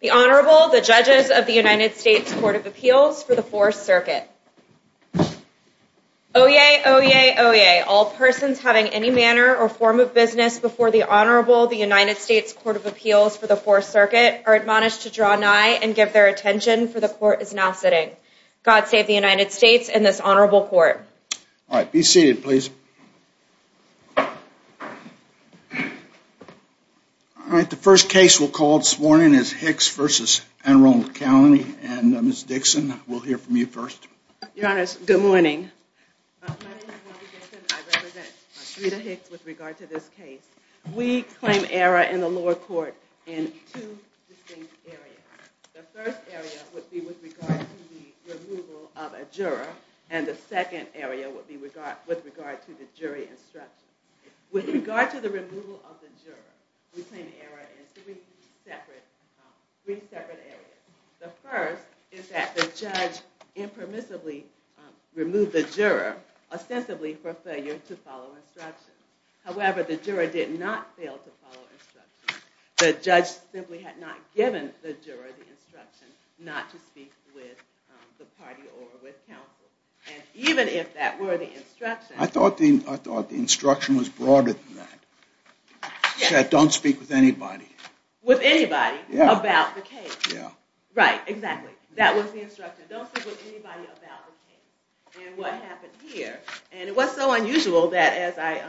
The Honorable, the Judges of the United States Court of Appeals for the Fourth Circuit. Oyez! Oyez! Oyez! All persons having any manner or form of business before the Honorable, the United States Court of Appeals for the Fourth Circuit, are admonished to draw nigh and give their attention, for the Court is now sitting. God save the United States and this Honorable Court. All right. Be seated, please. All right. The first case we'll call this morning is Hicks v. Anne Arundel County. And Ms. Dixon, we'll hear from you first. Your Honor, good morning. My name is Wendy Dixon. I represent Rita Hicks with regard to this case. We claim error in the lower court in two distinct areas. The first area would be with regard to the removal of a juror, and the second area would be with regard to the jury instruction. With regard to the removal of the juror, we claim error in three separate areas. The first is that the judge impermissibly removed the juror, ostensibly for failure to follow instructions. However, the juror did not fail to follow instructions. The judge simply had not given the juror the instruction not to speak with the party or with counsel. I thought the instruction was broader than that. It said don't speak with anybody. With anybody about the case. Right, exactly. That was the instruction. Don't speak with anybody about the case and what happened here. And it was so unusual that as I...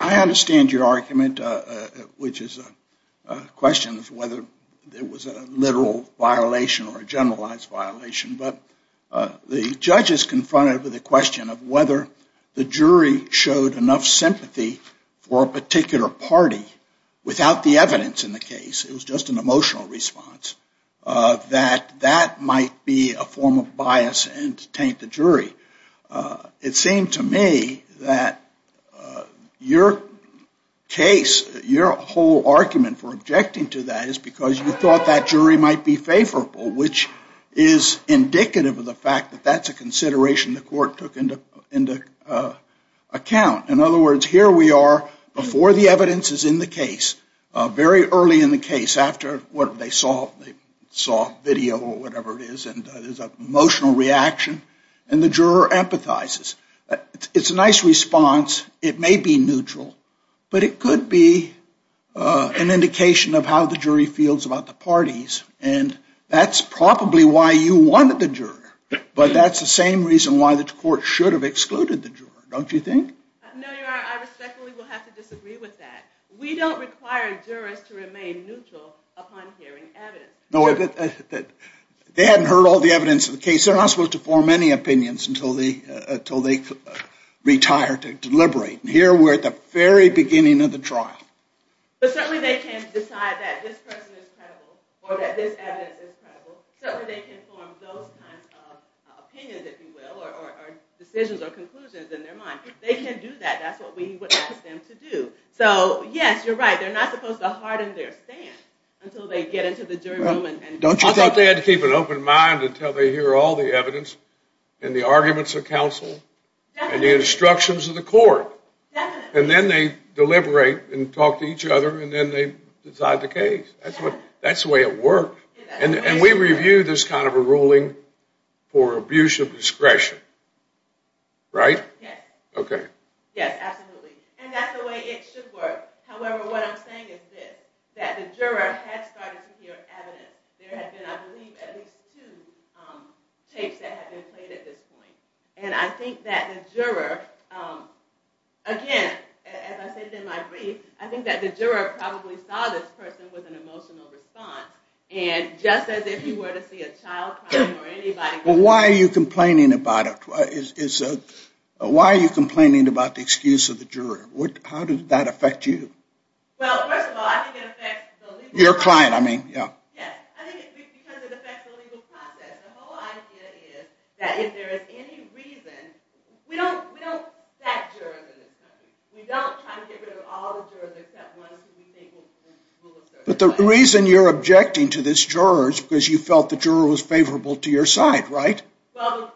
I understand your argument, which is a question of whether it was a literal violation or a generalized violation, but the judge is confronted with the question of whether the jury showed enough sympathy for a particular party without the evidence in the case. It was just an emotional response that that might be a form of bias and taint the jury. It seemed to me that your case, your whole argument for objecting to that is because you thought that jury might be favorable, which is indicative of the fact that that's a consideration the court took into account. In other words, here we are before the evidence is in the case, very early in the case, after they saw video or whatever it is, and there's an emotional reaction, and the juror empathizes. It's a nice response. It may be neutral, but it could be an indication of how the jury feels about the parties, and that's probably why you wanted the juror, but that's the same reason why the court should have excluded the juror, don't you think? No, Your Honor, I respectfully will have to disagree with that. We don't require jurors to remain neutral upon hearing evidence. They hadn't heard all the evidence of the case. They're not supposed to form any opinions until they retire to deliberate. Here we're at the very beginning of the trial. But certainly they can't decide that this person is credible or that this evidence is credible, so they can form those kinds of opinions, if you will, or decisions or conclusions in their mind. They can do that. That's what we would ask them to do. So, yes, you're right. They're not supposed to harden their stance until they get into the jury room. I thought they had to keep an open mind until they hear all the evidence and the arguments of counsel and the instructions of the court. And then they deliberate and talk to each other, and then they decide the case. That's the way it works. And we review this kind of a ruling for abuse of discretion, right? Yes. Okay. Yes, absolutely. And that's the way it should work. However, what I'm saying is this, that the juror had started to hear evidence. There had been, I believe, at least two tapes that had been played at this point. And I think that the juror, again, as I said in my brief, I think that the juror probably saw this person with an emotional response, and just as if he were to see a child crying or anybody crying. Well, why are you complaining about it? Why are you complaining about the excuse of the juror? How did that affect you? Well, first of all, I think it affects the legal process. The whole idea is that if there is any reason, we don't back jurors in this country. We don't try to get rid of all the jurors except ones who we think will assert their right. But the reason you're objecting to this juror is because you felt the juror was favorable to your side, right? Well,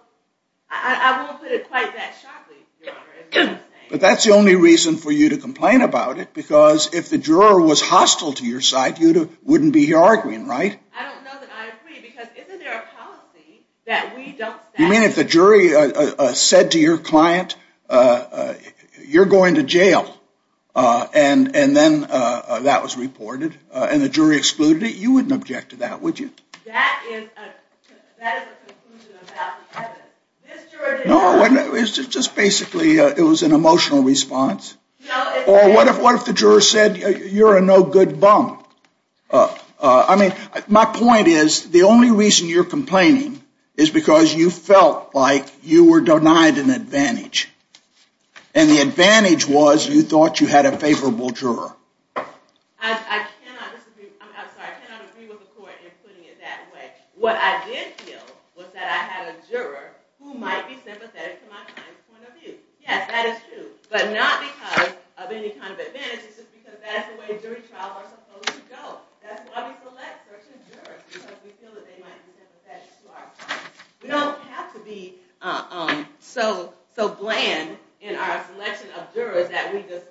I won't put it quite that sharply, Your Honor, is what I'm saying. But that's the only reason for you to complain about it, because if the juror was hostile to your side, you wouldn't be arguing, right? I don't know that I agree, because isn't there a policy that we don't back jurors? If the juror said to your client, you're going to jail, and then that was reported, and the jury excluded it, you wouldn't object to that, would you? That is a conclusion about the evidence. No, it was just basically an emotional response. Or what if the juror said, you're a no good bum? I mean, my point is, the only reason you're complaining is because you felt like you were denied an advantage. And the advantage was you thought you had a favorable juror. I cannot agree with the court in putting it that way. What I did feel was that I had a juror who might be sympathetic to my client's point of view. Yes, that is true, but not because of any kind of advantage. It's just because that's the way jury trials are supposed to go. We don't have to be so bland in our selection of jurors that we just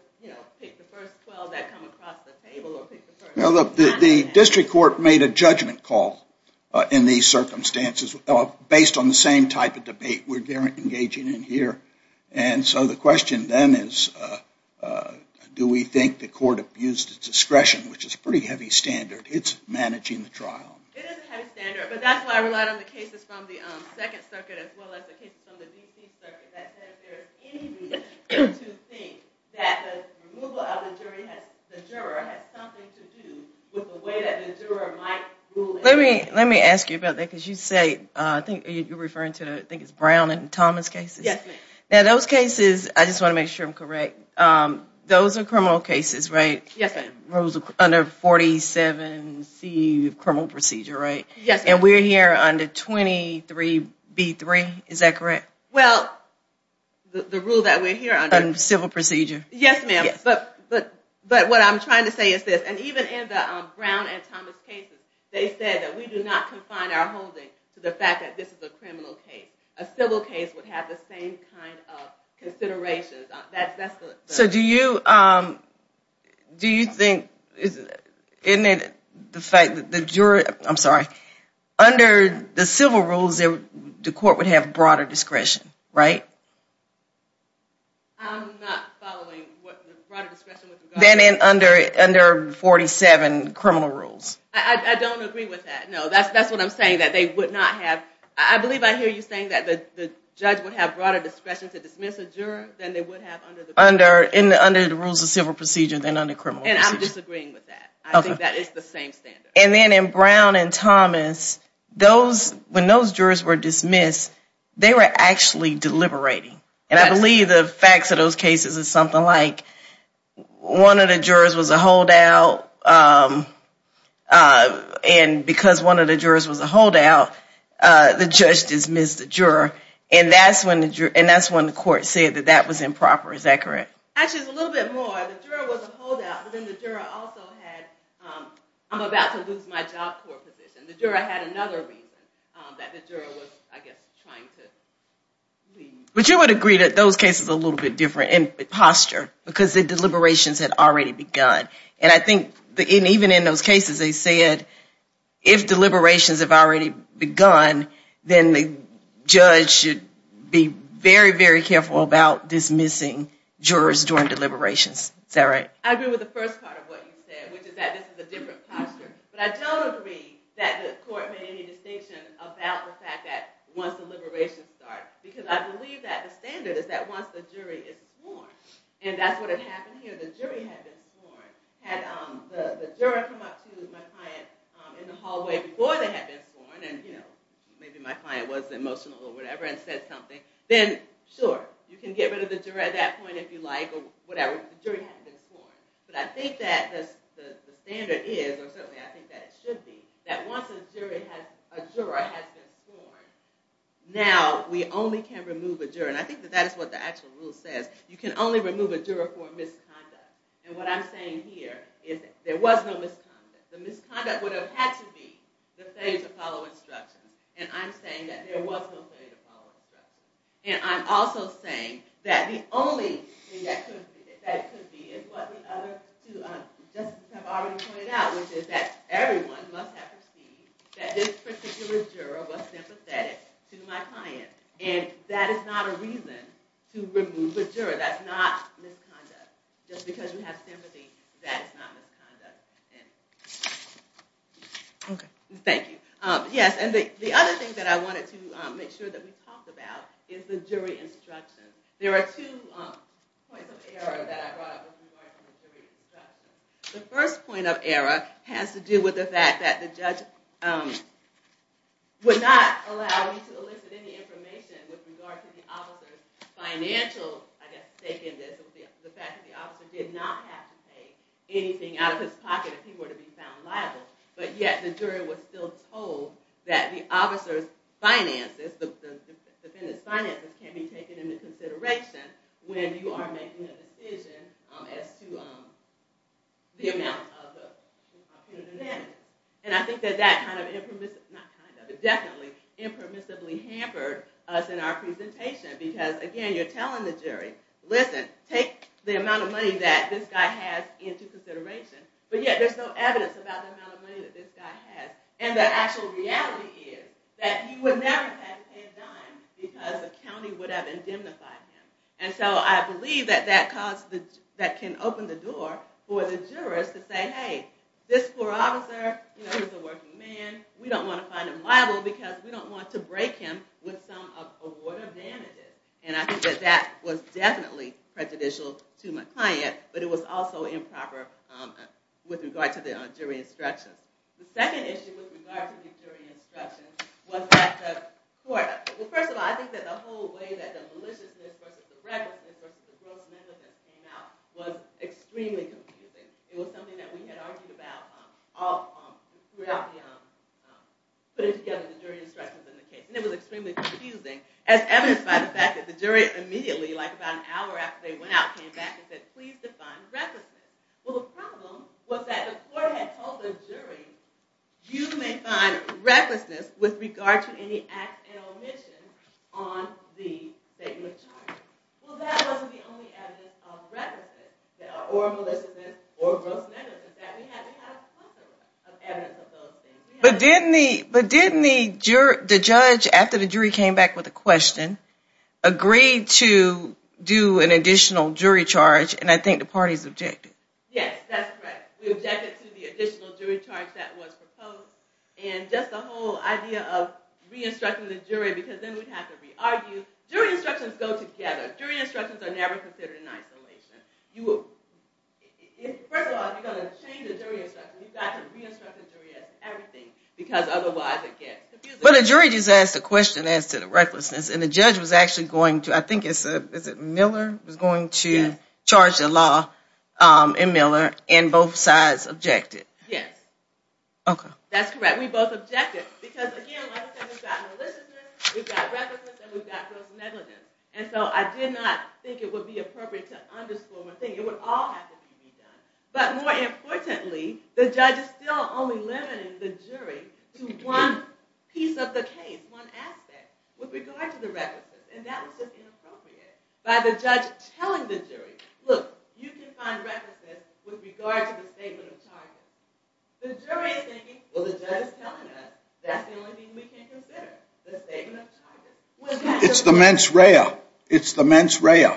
pick the first 12 that come across the table. The district court made a judgment call in these circumstances based on the same type of debate we're engaging in here. And so the question then is, do we think the court abused its discretion, which is a pretty heavy standard. It's managing the trial. It is a heavy standard, but that's why I relied on the cases from the Second Circuit as well as the cases from the D.C. Circuit. That said, if there is any reason to think that the removal of the juror has something to do with the way that the juror might rule. Let me ask you about that because you say, I think you're referring to, I think it's Brown and Thomas cases. Yes, ma'am. Now those cases, I just want to make sure I'm correct, those are criminal cases, right? Yes, ma'am. Under 47C of criminal procedure, right? Yes, ma'am. And we're here under 23B3, is that correct? Well, the rule that we're here under. Civil procedure. Yes, ma'am. But what I'm trying to say is this, and even in the Brown and Thomas cases, they said that we do not confine our holding to the fact that this is a criminal case. A civil case would have the same kind of considerations. So do you, do you think, isn't it the fact that the juror, I'm sorry, under the civil rules the court would have broader discretion, right? I'm not following what the broader discretion would be. Then under 47 criminal rules. I don't agree with that. No, that's what I'm saying, that they would not have, I believe I hear you saying that the judge would have broader discretion to dismiss a juror than they would to dismiss a judge. Under the rules of civil procedure than under criminal procedure. And I'm disagreeing with that. I think that is the same standard. And then in Brown and Thomas, those, when those jurors were dismissed, they were actually deliberating. And I believe the facts of those cases is something like one of the jurors was a holdout, and because one of the jurors was a holdout, the judge dismissed the juror. And that's when the court said that that was improper. Is that correct? Actually, it's a little bit more. The juror was a holdout, but then the juror also had, I'm about to lose my job court position. The juror had another reason that the juror was, I guess, trying to leave. But you would agree that those cases are a little bit different in posture, because the deliberations had already begun. And I think even in those cases, they said, if deliberations have already begun, then the judge should be very, very careful about dismissing jurors during deliberations. Is that right? I agree with the first part of what you said, which is that this is a different posture. But I don't agree that the court made any distinction about the fact that once deliberations start, because I believe that the standard is that once the jury is sworn, and that's what had happened here. If the jury had been sworn, had the juror come up to my client in the hallway before they had been sworn, and maybe my client was emotional or whatever and said something, then sure, you can get rid of the juror at that point if you like, or whatever. The jury hadn't been sworn. But I think that the standard is, or certainly I think that it should be, that once a juror has been sworn, now we only can remove a juror. And I think that that is what the actual rule says. You can only remove a juror for misconduct. And what I'm saying here is that there was no misconduct. The misconduct would have had to be the failure to follow instructions. And I'm saying that there was no failure to follow instructions. And I'm also saying that the only thing that could be is what the other two justices have already pointed out, which is that everyone must have perceived that this particular juror was sympathetic to my client. And that is not a reason to remove a juror. That's not misconduct. Just because you have sympathy, that is not misconduct. Thank you. Yes, and the other thing that I wanted to make sure that we talked about is the jury instruction. There are two points of error that I brought up with regard to the jury instruction. The first point of error has to do with the fact that the judge would not allow you to elicit any information with regard to the officer's financial, I guess, sake in this. The fact that the officer did not have to pay anything out of his pocket if he were to be found liable. But yet, the jury was still told that the officer's finances, the defendant's finances, can be taken into consideration when you are making a decision as to the amount of payment. And I think that that kind of impermissibly hampered us in our presentation because, again, you're telling the jury, listen, take the amount of money that this guy has into consideration. But yet, there's no evidence about the amount of money that this guy has. And the actual reality is that he would never have had to pay a dime because the county would have indemnified him. And so I believe that that can open the door for the jurors to say, hey, this poor officer is a working man. We don't want to find him liable because we don't want to break him with some avoidant damages. And I think that that was definitely prejudicial to my client, but it was also improper with regard to the jury instructions. The second issue with regard to the jury instructions was that the court—well, first of all, I think that the whole way that the maliciousness versus the recklessness versus the gross negligence came out was extremely confusing. It was something that we had argued about putting together the jury instructions in the case. And it was extremely confusing, as evidenced by the fact that the jury immediately, like about an hour after they went out, came back and said, please define recklessness. Well, the problem was that the court had told the jury, you may find recklessness with regard to any acts and omissions on the statement of charges. Well, that wasn't the only evidence of recklessness or maliciousness or gross negligence that we had. We had a bunch of evidence of those things. But didn't the judge, after the jury came back with a question, agree to do an additional jury charge? And I think the parties objected. Yes, that's correct. We objected to the additional jury charge that was proposed. And just the whole idea of re-instructing the jury, because then we'd have to re-argue. Jury instructions go together. Jury instructions are never considered in isolation. First of all, if you're going to change a jury instruction, you've got to re-instruct the jury as everything, because otherwise it gets confusing. But a jury just asked a question as to the recklessness, and the judge was actually going to, I think it's Miller, was going to charge the law in Miller, and both sides objected. Yes. That's correct. We both objected. Because, again, like I said, we've got maliciousness, we've got recklessness, and we've got gross negligence. And so I did not think it would be appropriate to underscore one thing. It would all have to be redone. But more importantly, the judge is still only limiting the jury to one piece of the case, one aspect, with regard to the recklessness. And that was just inappropriate by the judge telling the jury, look, you can find recklessness with regard to the statement of charges. The jury is thinking, well, the judge is telling us, that's the only thing we can consider, the statement of charges. It's the mens rea. It's the mens rea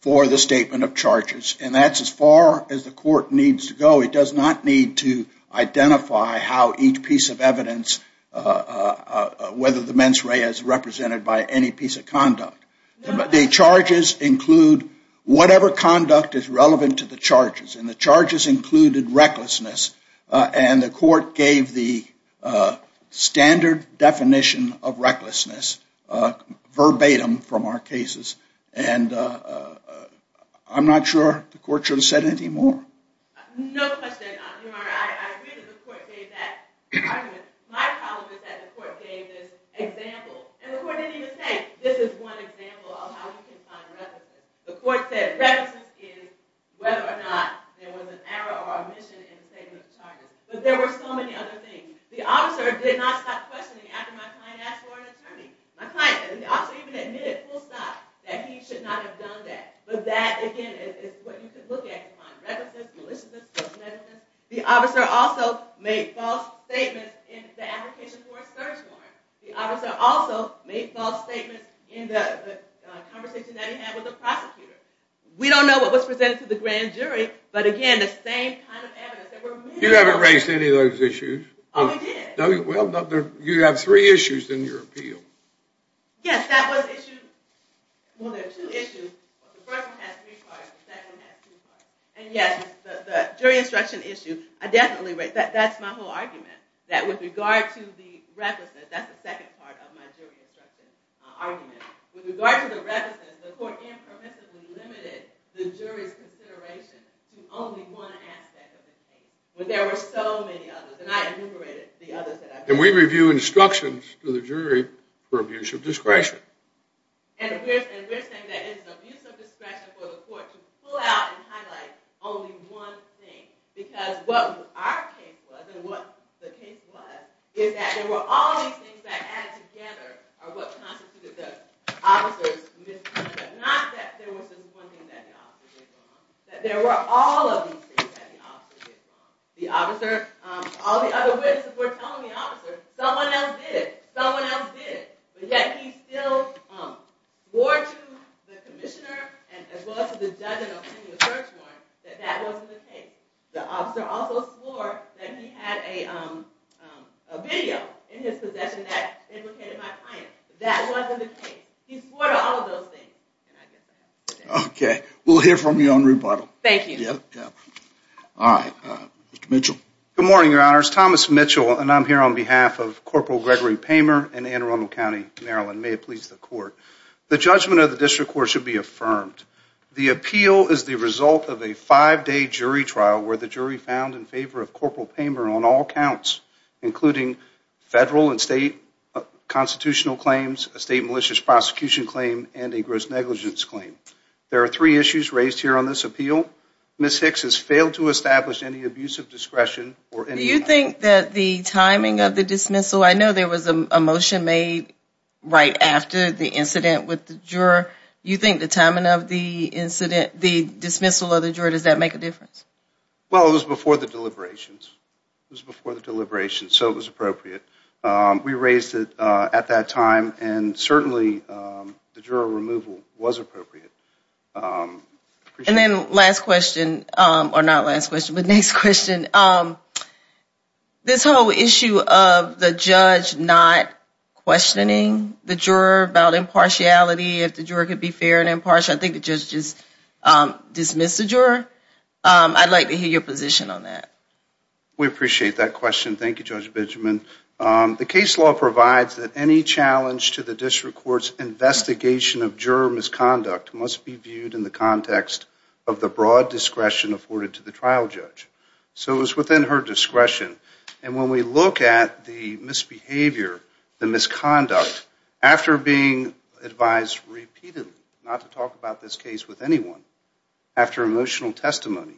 for the statement of charges. And that's as far as the court needs to go. It does not need to identify how each piece of evidence, whether the mens rea is represented by any piece of conduct. The charges include whatever conduct is relevant to the charges. And the charges included recklessness. And the court gave the standard definition of recklessness verbatim from our cases. And I'm not sure the court should have said anything more. No question. Your Honor, I agree that the court gave that argument. My problem is that the court gave this example. And the court didn't even say, this is one example of how you can find recklessness. The court said, recklessness is whether or not there was an error or omission in the statement of charges. But there were so many other things. The officer did not stop questioning after my client asked for an attorney. My client, the officer even admitted full stop that he should not have done that. But that, again, is what you can look at to find recklessness, maliciousness. The officer also made false statements in the application for a search warrant. The officer also made false statements in the conversation that he had with the prosecutor. We don't know what was presented to the grand jury. But again, the same kind of evidence. You haven't raised any of those issues. Oh, I did. Well, you have three issues in your appeal. Yes, that was issued. Well, there are two issues. The first one has three parts. The second has two parts. And yes, the jury instruction issue, I definitely raised. That's my whole argument. That with regard to the recklessness, that's the second part of my jury instruction argument. With regard to the recklessness, the court impermissibly limited the jury's consideration to only one aspect of the case. But there were so many others. And I enumerated the others that I brought up. And we review instructions to the jury for abuse of discretion. And we're saying that it's abuse of discretion for the court to pull out and highlight only one thing. Because what our case was, and what the case was, is that there were all these things that added together are what constituted the officer's misconduct. Not that there was just one thing that the officer did wrong. That there were all of these things that the officer did wrong. All the other witnesses were telling the officer, someone else did. Someone else did. But yet he still swore to the commissioner, as well as to the judge in the opinion search warrant, that that wasn't the case. The officer also swore that he had a video in his possession that implicated my client. That wasn't the case. He swore to all of those things. Okay. We'll hear from you on rebuttal. Thank you. All right. Mr. Mitchell. Good morning, Your Honors. Thomas Mitchell, and I'm here on behalf of Corporal Gregory Pamer in Anne Arundel County, Maryland. May it please the court. The judgment of the district court should be affirmed. The appeal is the result of a five-day jury trial where the jury found in favor of Corporal Pamer on all counts, including federal and state constitutional claims, a state malicious prosecution claim, and a gross negligence claim. There are three issues raised here on this appeal. Ms. Hicks has failed to establish any abuse of discretion or any... Do you think that the timing of the dismissal, I know there was a motion made right after the incident with the juror. Do you think the timing of the incident, the dismissal of the juror, does that make a difference? Well, it was before the deliberations. It was before the deliberations, so it was appropriate. We raised it at that time, and certainly the juror removal was appropriate. And then last question, or not last question, but next question. This whole issue of the judge not questioning the juror about impartiality, if the juror could be fair and impartial, I think the judge just dismissed the juror. I'd like to hear your position on that. We appreciate that question. Thank you, Judge Benjamin. The case law provides that any challenge to the district court's investigation of juror misconduct must be viewed in the context of the broad discretion afforded to the trial judge. So it was within her discretion. And when we look at the misbehavior, the misconduct, after being advised repeatedly not to talk about this case with anyone, after emotional testimony,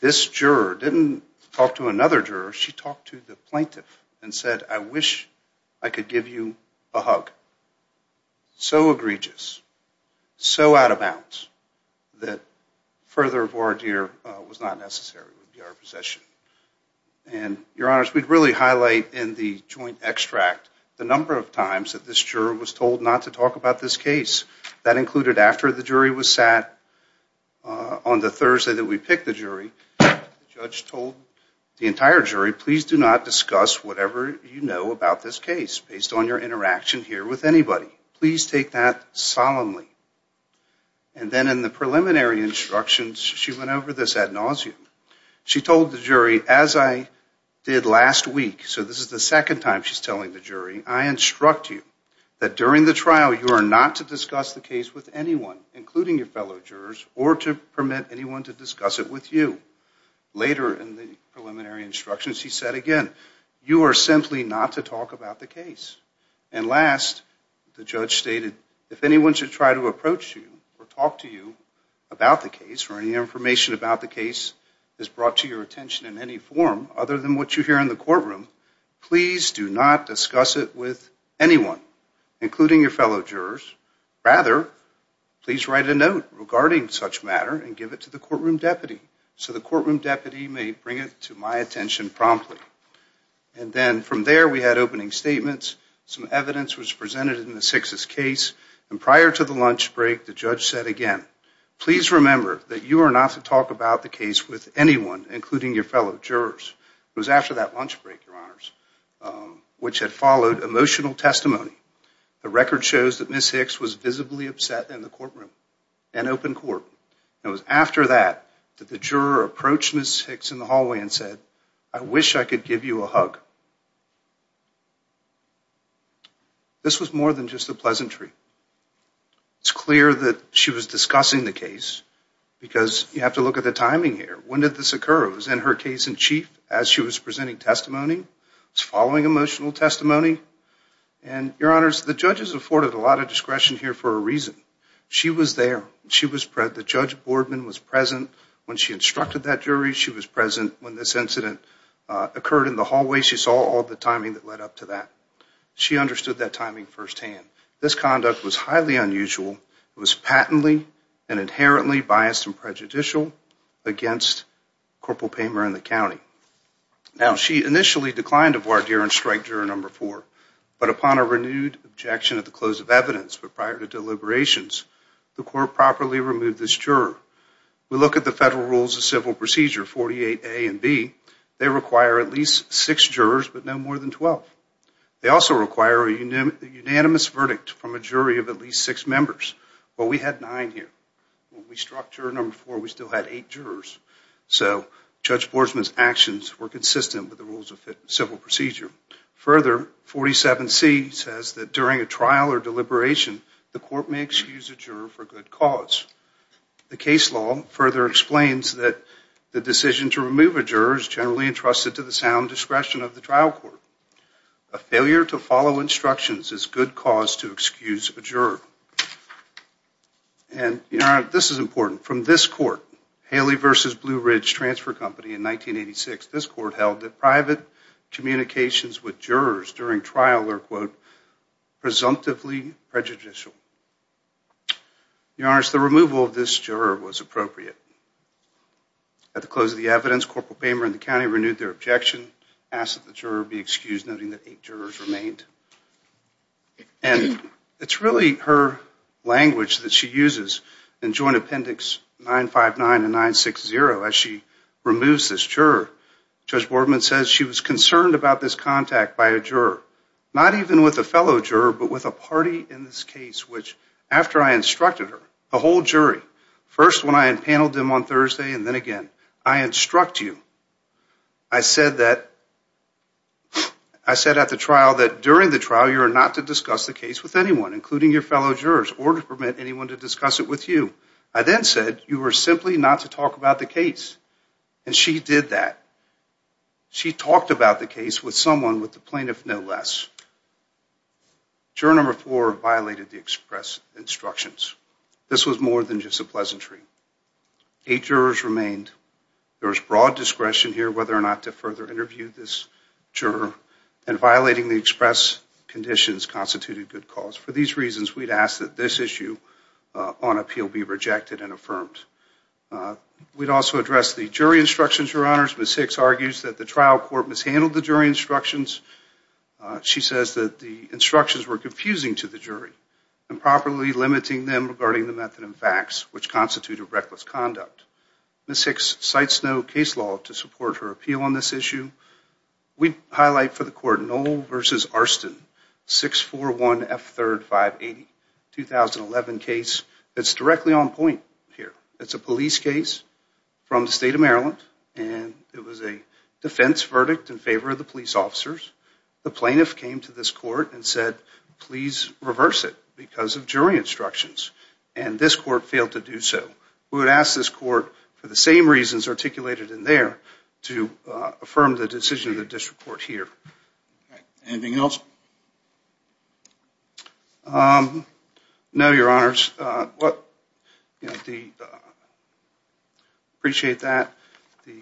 this juror didn't talk to another juror. She talked to the plaintiff and said, I wish I could give you a hug. So egregious, so out of bounds, that further voir dire was not necessary would be our position. And, Your Honors, we'd really highlight in the joint extract the number of times that this juror was told not to talk about this case. That included after the jury was sat on the Thursday that we picked the jury, the judge told the entire jury, please do not discuss whatever you know about this case based on your interaction here with anybody. Please take that solemnly. And then in the preliminary instructions, she went over this ad nauseum. She told the jury, as I did last week, so this is the second time she's telling the jury, I instruct you that during the trial you are not to discuss the case with anyone, including your fellow jurors, or to permit anyone to discuss it with you. Later in the preliminary instructions, she said again, you are simply not to talk about the case. And last, the judge stated, if anyone should try to approach you or talk to you about the case or any information about the case is brought to your attention in any form other than what you hear in the courtroom, please do not discuss it with anyone, including your fellow jurors. Rather, please write a note regarding such matter and give it to the courtroom deputy so the courtroom deputy may bring it to my attention promptly. And then from there we had opening statements, some evidence was presented in the Sixth's case, and prior to the lunch break, the judge said again, please remember that you are not to talk about the case with anyone, including your fellow jurors. It was after that lunch break, your honors, which had followed emotional testimony. The record shows that Ms. Hicks was visibly upset in the courtroom, an open court. It was after that that the juror approached Ms. Hicks in the hallway and said, I wish I could give you a hug. This was more than just a pleasantry. It's clear that she was discussing the case because you have to look at the timing here. When did this occur? It was in her case in chief as she was presenting testimony, following emotional testimony. And your honors, the judges afforded a lot of discretion here for a reason. She was there. The judge boardman was present when she instructed that jury. She was present when this incident occurred in the hallway. She saw all the timing that led up to that. She understood that timing firsthand. This conduct was highly unusual. It was patently and inherently biased and prejudicial against Corporal Pamer and the county. Now, she initially declined to voir dire and strike juror number four, but upon a renewed objection at the close of evidence prior to deliberations, the court properly removed this juror. We look at the federal rules of civil procedure, 48A and B. They require at least six jurors, but no more than 12. They also require a unanimous verdict from a jury of at least six members, but we had nine here. When we struck juror number four, we still had eight jurors. So, Judge Boersman's actions were consistent with the rules of civil procedure. Further, 47C says that during a trial or deliberation, the court may excuse a juror for good cause. The case law further explains that the decision to remove a juror is generally entrusted to the sound discretion of the trial court. A failure to follow instructions is good cause to excuse a juror. This is important. From this court, Haley v. Blue Ridge Transfer Company in 1986, this court held that private communications with jurors during trial were, quote, presumptively prejudicial. Your Honor, the removal of this juror was appropriate. At the close of the evidence, Corporal Pamer in the county renewed their objection, asked that the juror be excused, noting that eight jurors remained. And it's really her language that she uses in Joint Appendix 959 and 960 as she removes this juror. Judge Boersman says she was concerned about this contact by a juror, not even with a fellow juror, but with a party in this case, which, after I instructed her, the whole jury, first when I had paneled the jury, I said, I'm going to remove this juror. I removed them on Thursday, and then again. I instruct you. I said that, I said at the trial that during the trial, you are not to discuss the case with anyone, including your fellow jurors, or to permit anyone to discuss it with you. I then said, you are simply not to talk about the case. And she did that. She talked about the case with someone, with the plaintiff no less. Juror number four violated the express instructions. This was more than just a pleasantry. Eight jurors remained. There was broad discretion here whether or not to further interview this juror, and violating the express conditions constituted good cause. For these reasons, we'd ask that this issue on appeal be rejected and affirmed. We'd also address the jury instructions, Your Honors. Ms. Hicks argues that the trial court mishandled the jury instructions. She says that the instructions were confusing to the jury, improperly limiting them regarding the method and facts, which constituted reckless conduct. Ms. Hicks cites no case law to support her appeal on this issue. We highlight for the court, Knoll v. Arston, 641F3580, 2011 case that's directly on point here. It's a police case from the state of Maryland, and it was a defense verdict in favor of the police officers. The plaintiff came to this court and said, please reverse it because of jury instructions. And this court failed to do so. We would ask this court for the same reasons articulated in there to affirm the decision of the district court here. Anything else? No, Your Honors. Appreciate that. The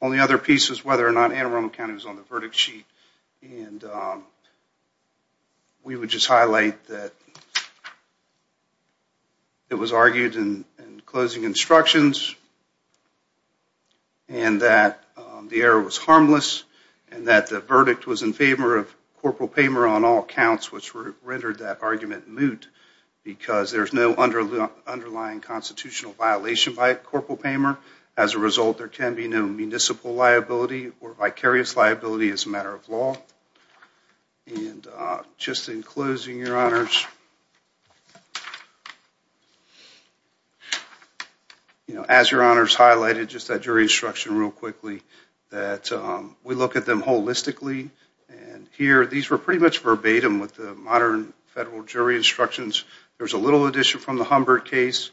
only other piece is whether or not Anne Arundel County was on the verdict sheet. We would just highlight that it was argued in closing instructions and that the error was harmless and that the verdict was in favor of Corporal Pamer on all counts, which rendered that argument moot because there's no underlying constitutional violation by Corporal Pamer. As a result, there can be no municipal liability or vicarious liability as a matter of law. And just in closing, Your Honors, as Your Honors highlighted, just that jury instruction real quickly, that we look at them holistically, and here these were pretty much verbatim with the modern federal jury instructions. There's a little addition from the Humbert case,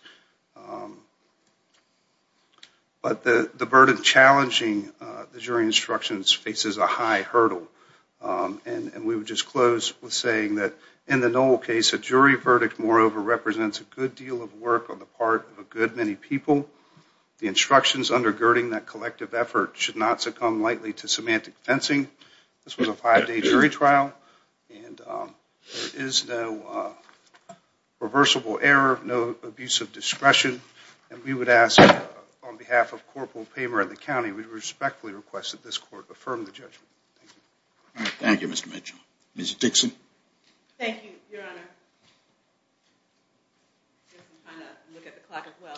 but the burden challenging the jury instructions faces a high hurdle. And we would just close with saying that in the Noel case, a jury verdict, moreover, represents a good deal of work on the part of a good many people. The instructions undergirding that collective effort should not succumb lightly to semantic fencing. This was a five-day jury trial, and there is no reversible error, no abuse of discretion. And we would ask on behalf of Corporal Pamer and the county, we respectfully request that this court affirm the judgment. Thank you. Thank you, Mr. Mitchell. Ms. Dixon. Thank you, Your Honor. I'm going to look at the clock as well.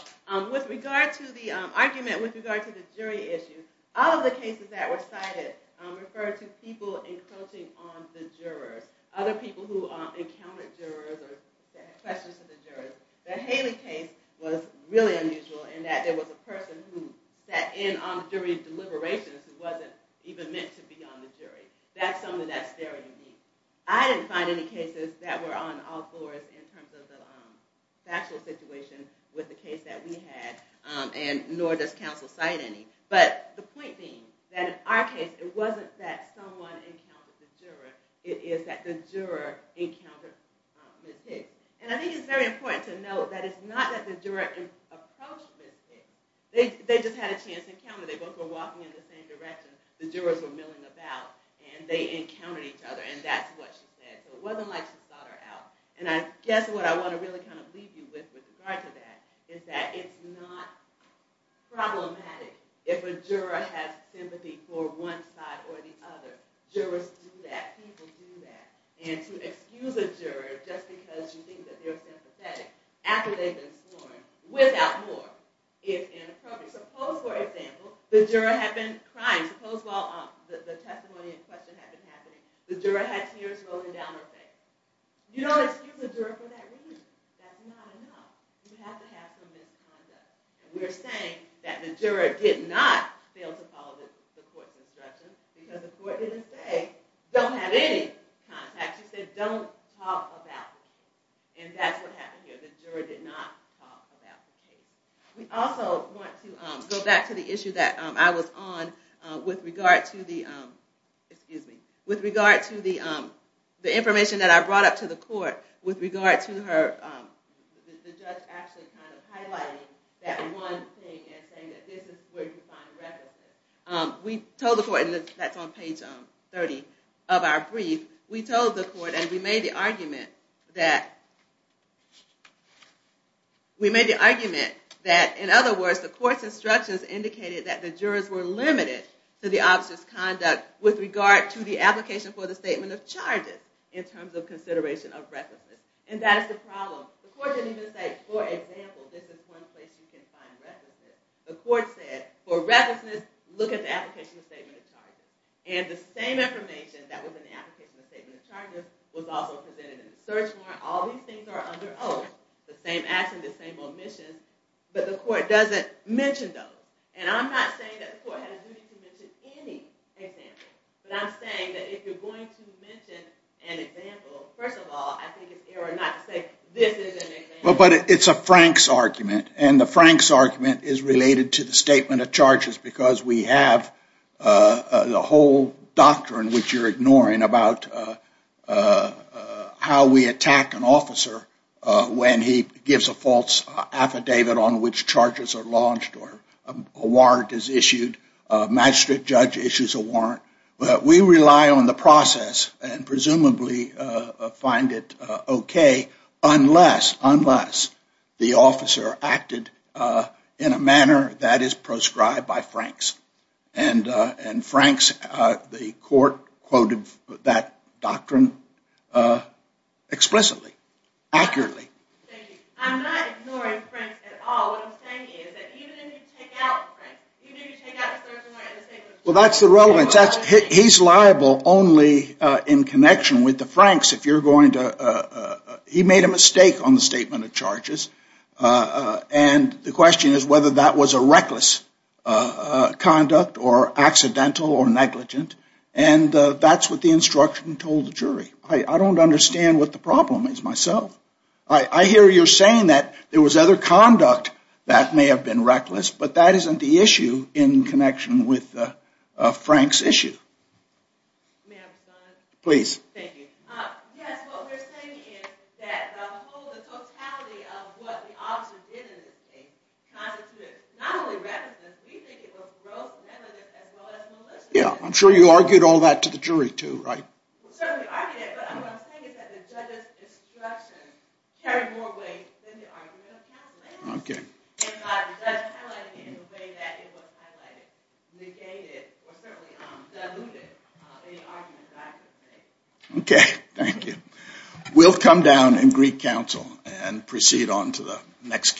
With regard to the argument, with regard to the jury issue, all of the cases that were cited referred to people encroaching on the jurors. Other people who encountered jurors or said questions to the jurors. The Haley case was really unusual in that there was a person who sat in on the jury deliberations who wasn't even meant to be on the jury. That's something that's very unique. I didn't find any cases that were on all fours in terms of the factual situation with the case that we had, and nor does counsel cite any. But the point being that in our case, it wasn't that someone encountered the juror. It is that the juror encountered Ms. Hicks. And I think it's very important to note that it's not that the juror approached Ms. Hicks. They just had a chance encounter. They both were walking in the same direction. The jurors were milling about, and they encountered each other. And that's what she said. So it wasn't like she thought her out. And I guess what I want to really kind of leave you with with regard to that is that it's not problematic if a juror has sympathy for one side or the other. Jurors do that. People do that. And to excuse a juror just because you think that they're sympathetic after they've been sworn without more is inappropriate. Suppose, for example, the juror had been crying. Suppose, while the testimony in question had been happening, the juror had tears rolling down her face. You don't excuse a juror for that reason. That's not enough. You have to have some misconduct. And we're saying that the juror did not fail to follow the court's instructions because the court didn't say don't have any contact. She said don't talk about it. And that's what happened here. The juror did not talk about the case. We also want to go back to the issue that I was on with regard to the information that I brought up to the court with regard to the judge actually kind of highlighting that one thing and saying that this is where you find recklessness. We told the court, and that's on page 30 of our brief, we told the court and we made the argument that, in other words, the court's instructions indicated that the jurors were limited to the officer's conduct with regard to the application for the statement of charges in terms of consideration of recklessness. And that is the problem. The court didn't even say, for example, this is one place you can find recklessness. The court said, for recklessness, look at the application of statement of charges. And the same information that was in the application of statement of charges was also presented in the search warrant. All these things are under oath, the same action, the same omissions. But the court doesn't mention those. And I'm not saying that the court had a duty to mention any example. But I'm saying that if you're going to mention an example, first of all, I think it's error not to say this is an example. But it's a Frank's argument. And the Frank's argument is related to the statement of charges because we have the whole doctrine, which you're ignoring, about how we attack an officer when he gives a false affidavit on which charges are launched or a warrant is issued, magistrate judge issues a warrant. But we rely on the process and presumably find it OK unless the officer acted in a manner that is proscribed by Frank's. And Frank's, the court, quoted that doctrine explicitly, accurately. Thank you. I'm not ignoring Frank's at all. What I'm saying is that even if you take out Frank's, even if you take out the search warrant and the statement of charges, Well, that's the relevance. He's liable only in connection with the Frank's if you're going to. He made a mistake on the statement of charges. And the question is whether that was a reckless conduct or accidental or negligent. And that's what the instruction told the jury. I don't understand what the problem is myself. I hear you're saying that there was other conduct that may have been reckless, but that isn't the issue in connection with Frank's issue. May I respond? Please. Thank you. Yes, what we're saying is that the totality of what the officer did in this case constituted not only recklessness, we think it was gross negligence as well as maliciousness. Yeah, I'm sure you argued all that to the jury too, right? What I'm saying is that the judge's instruction carried more weight than the argument of counsel. Okay. And the judge highlighted it in a way that it was highlighted, negated, or certainly diluted any argument that I could make. Okay, thank you. We'll come down and greet counsel and proceed on to the next case.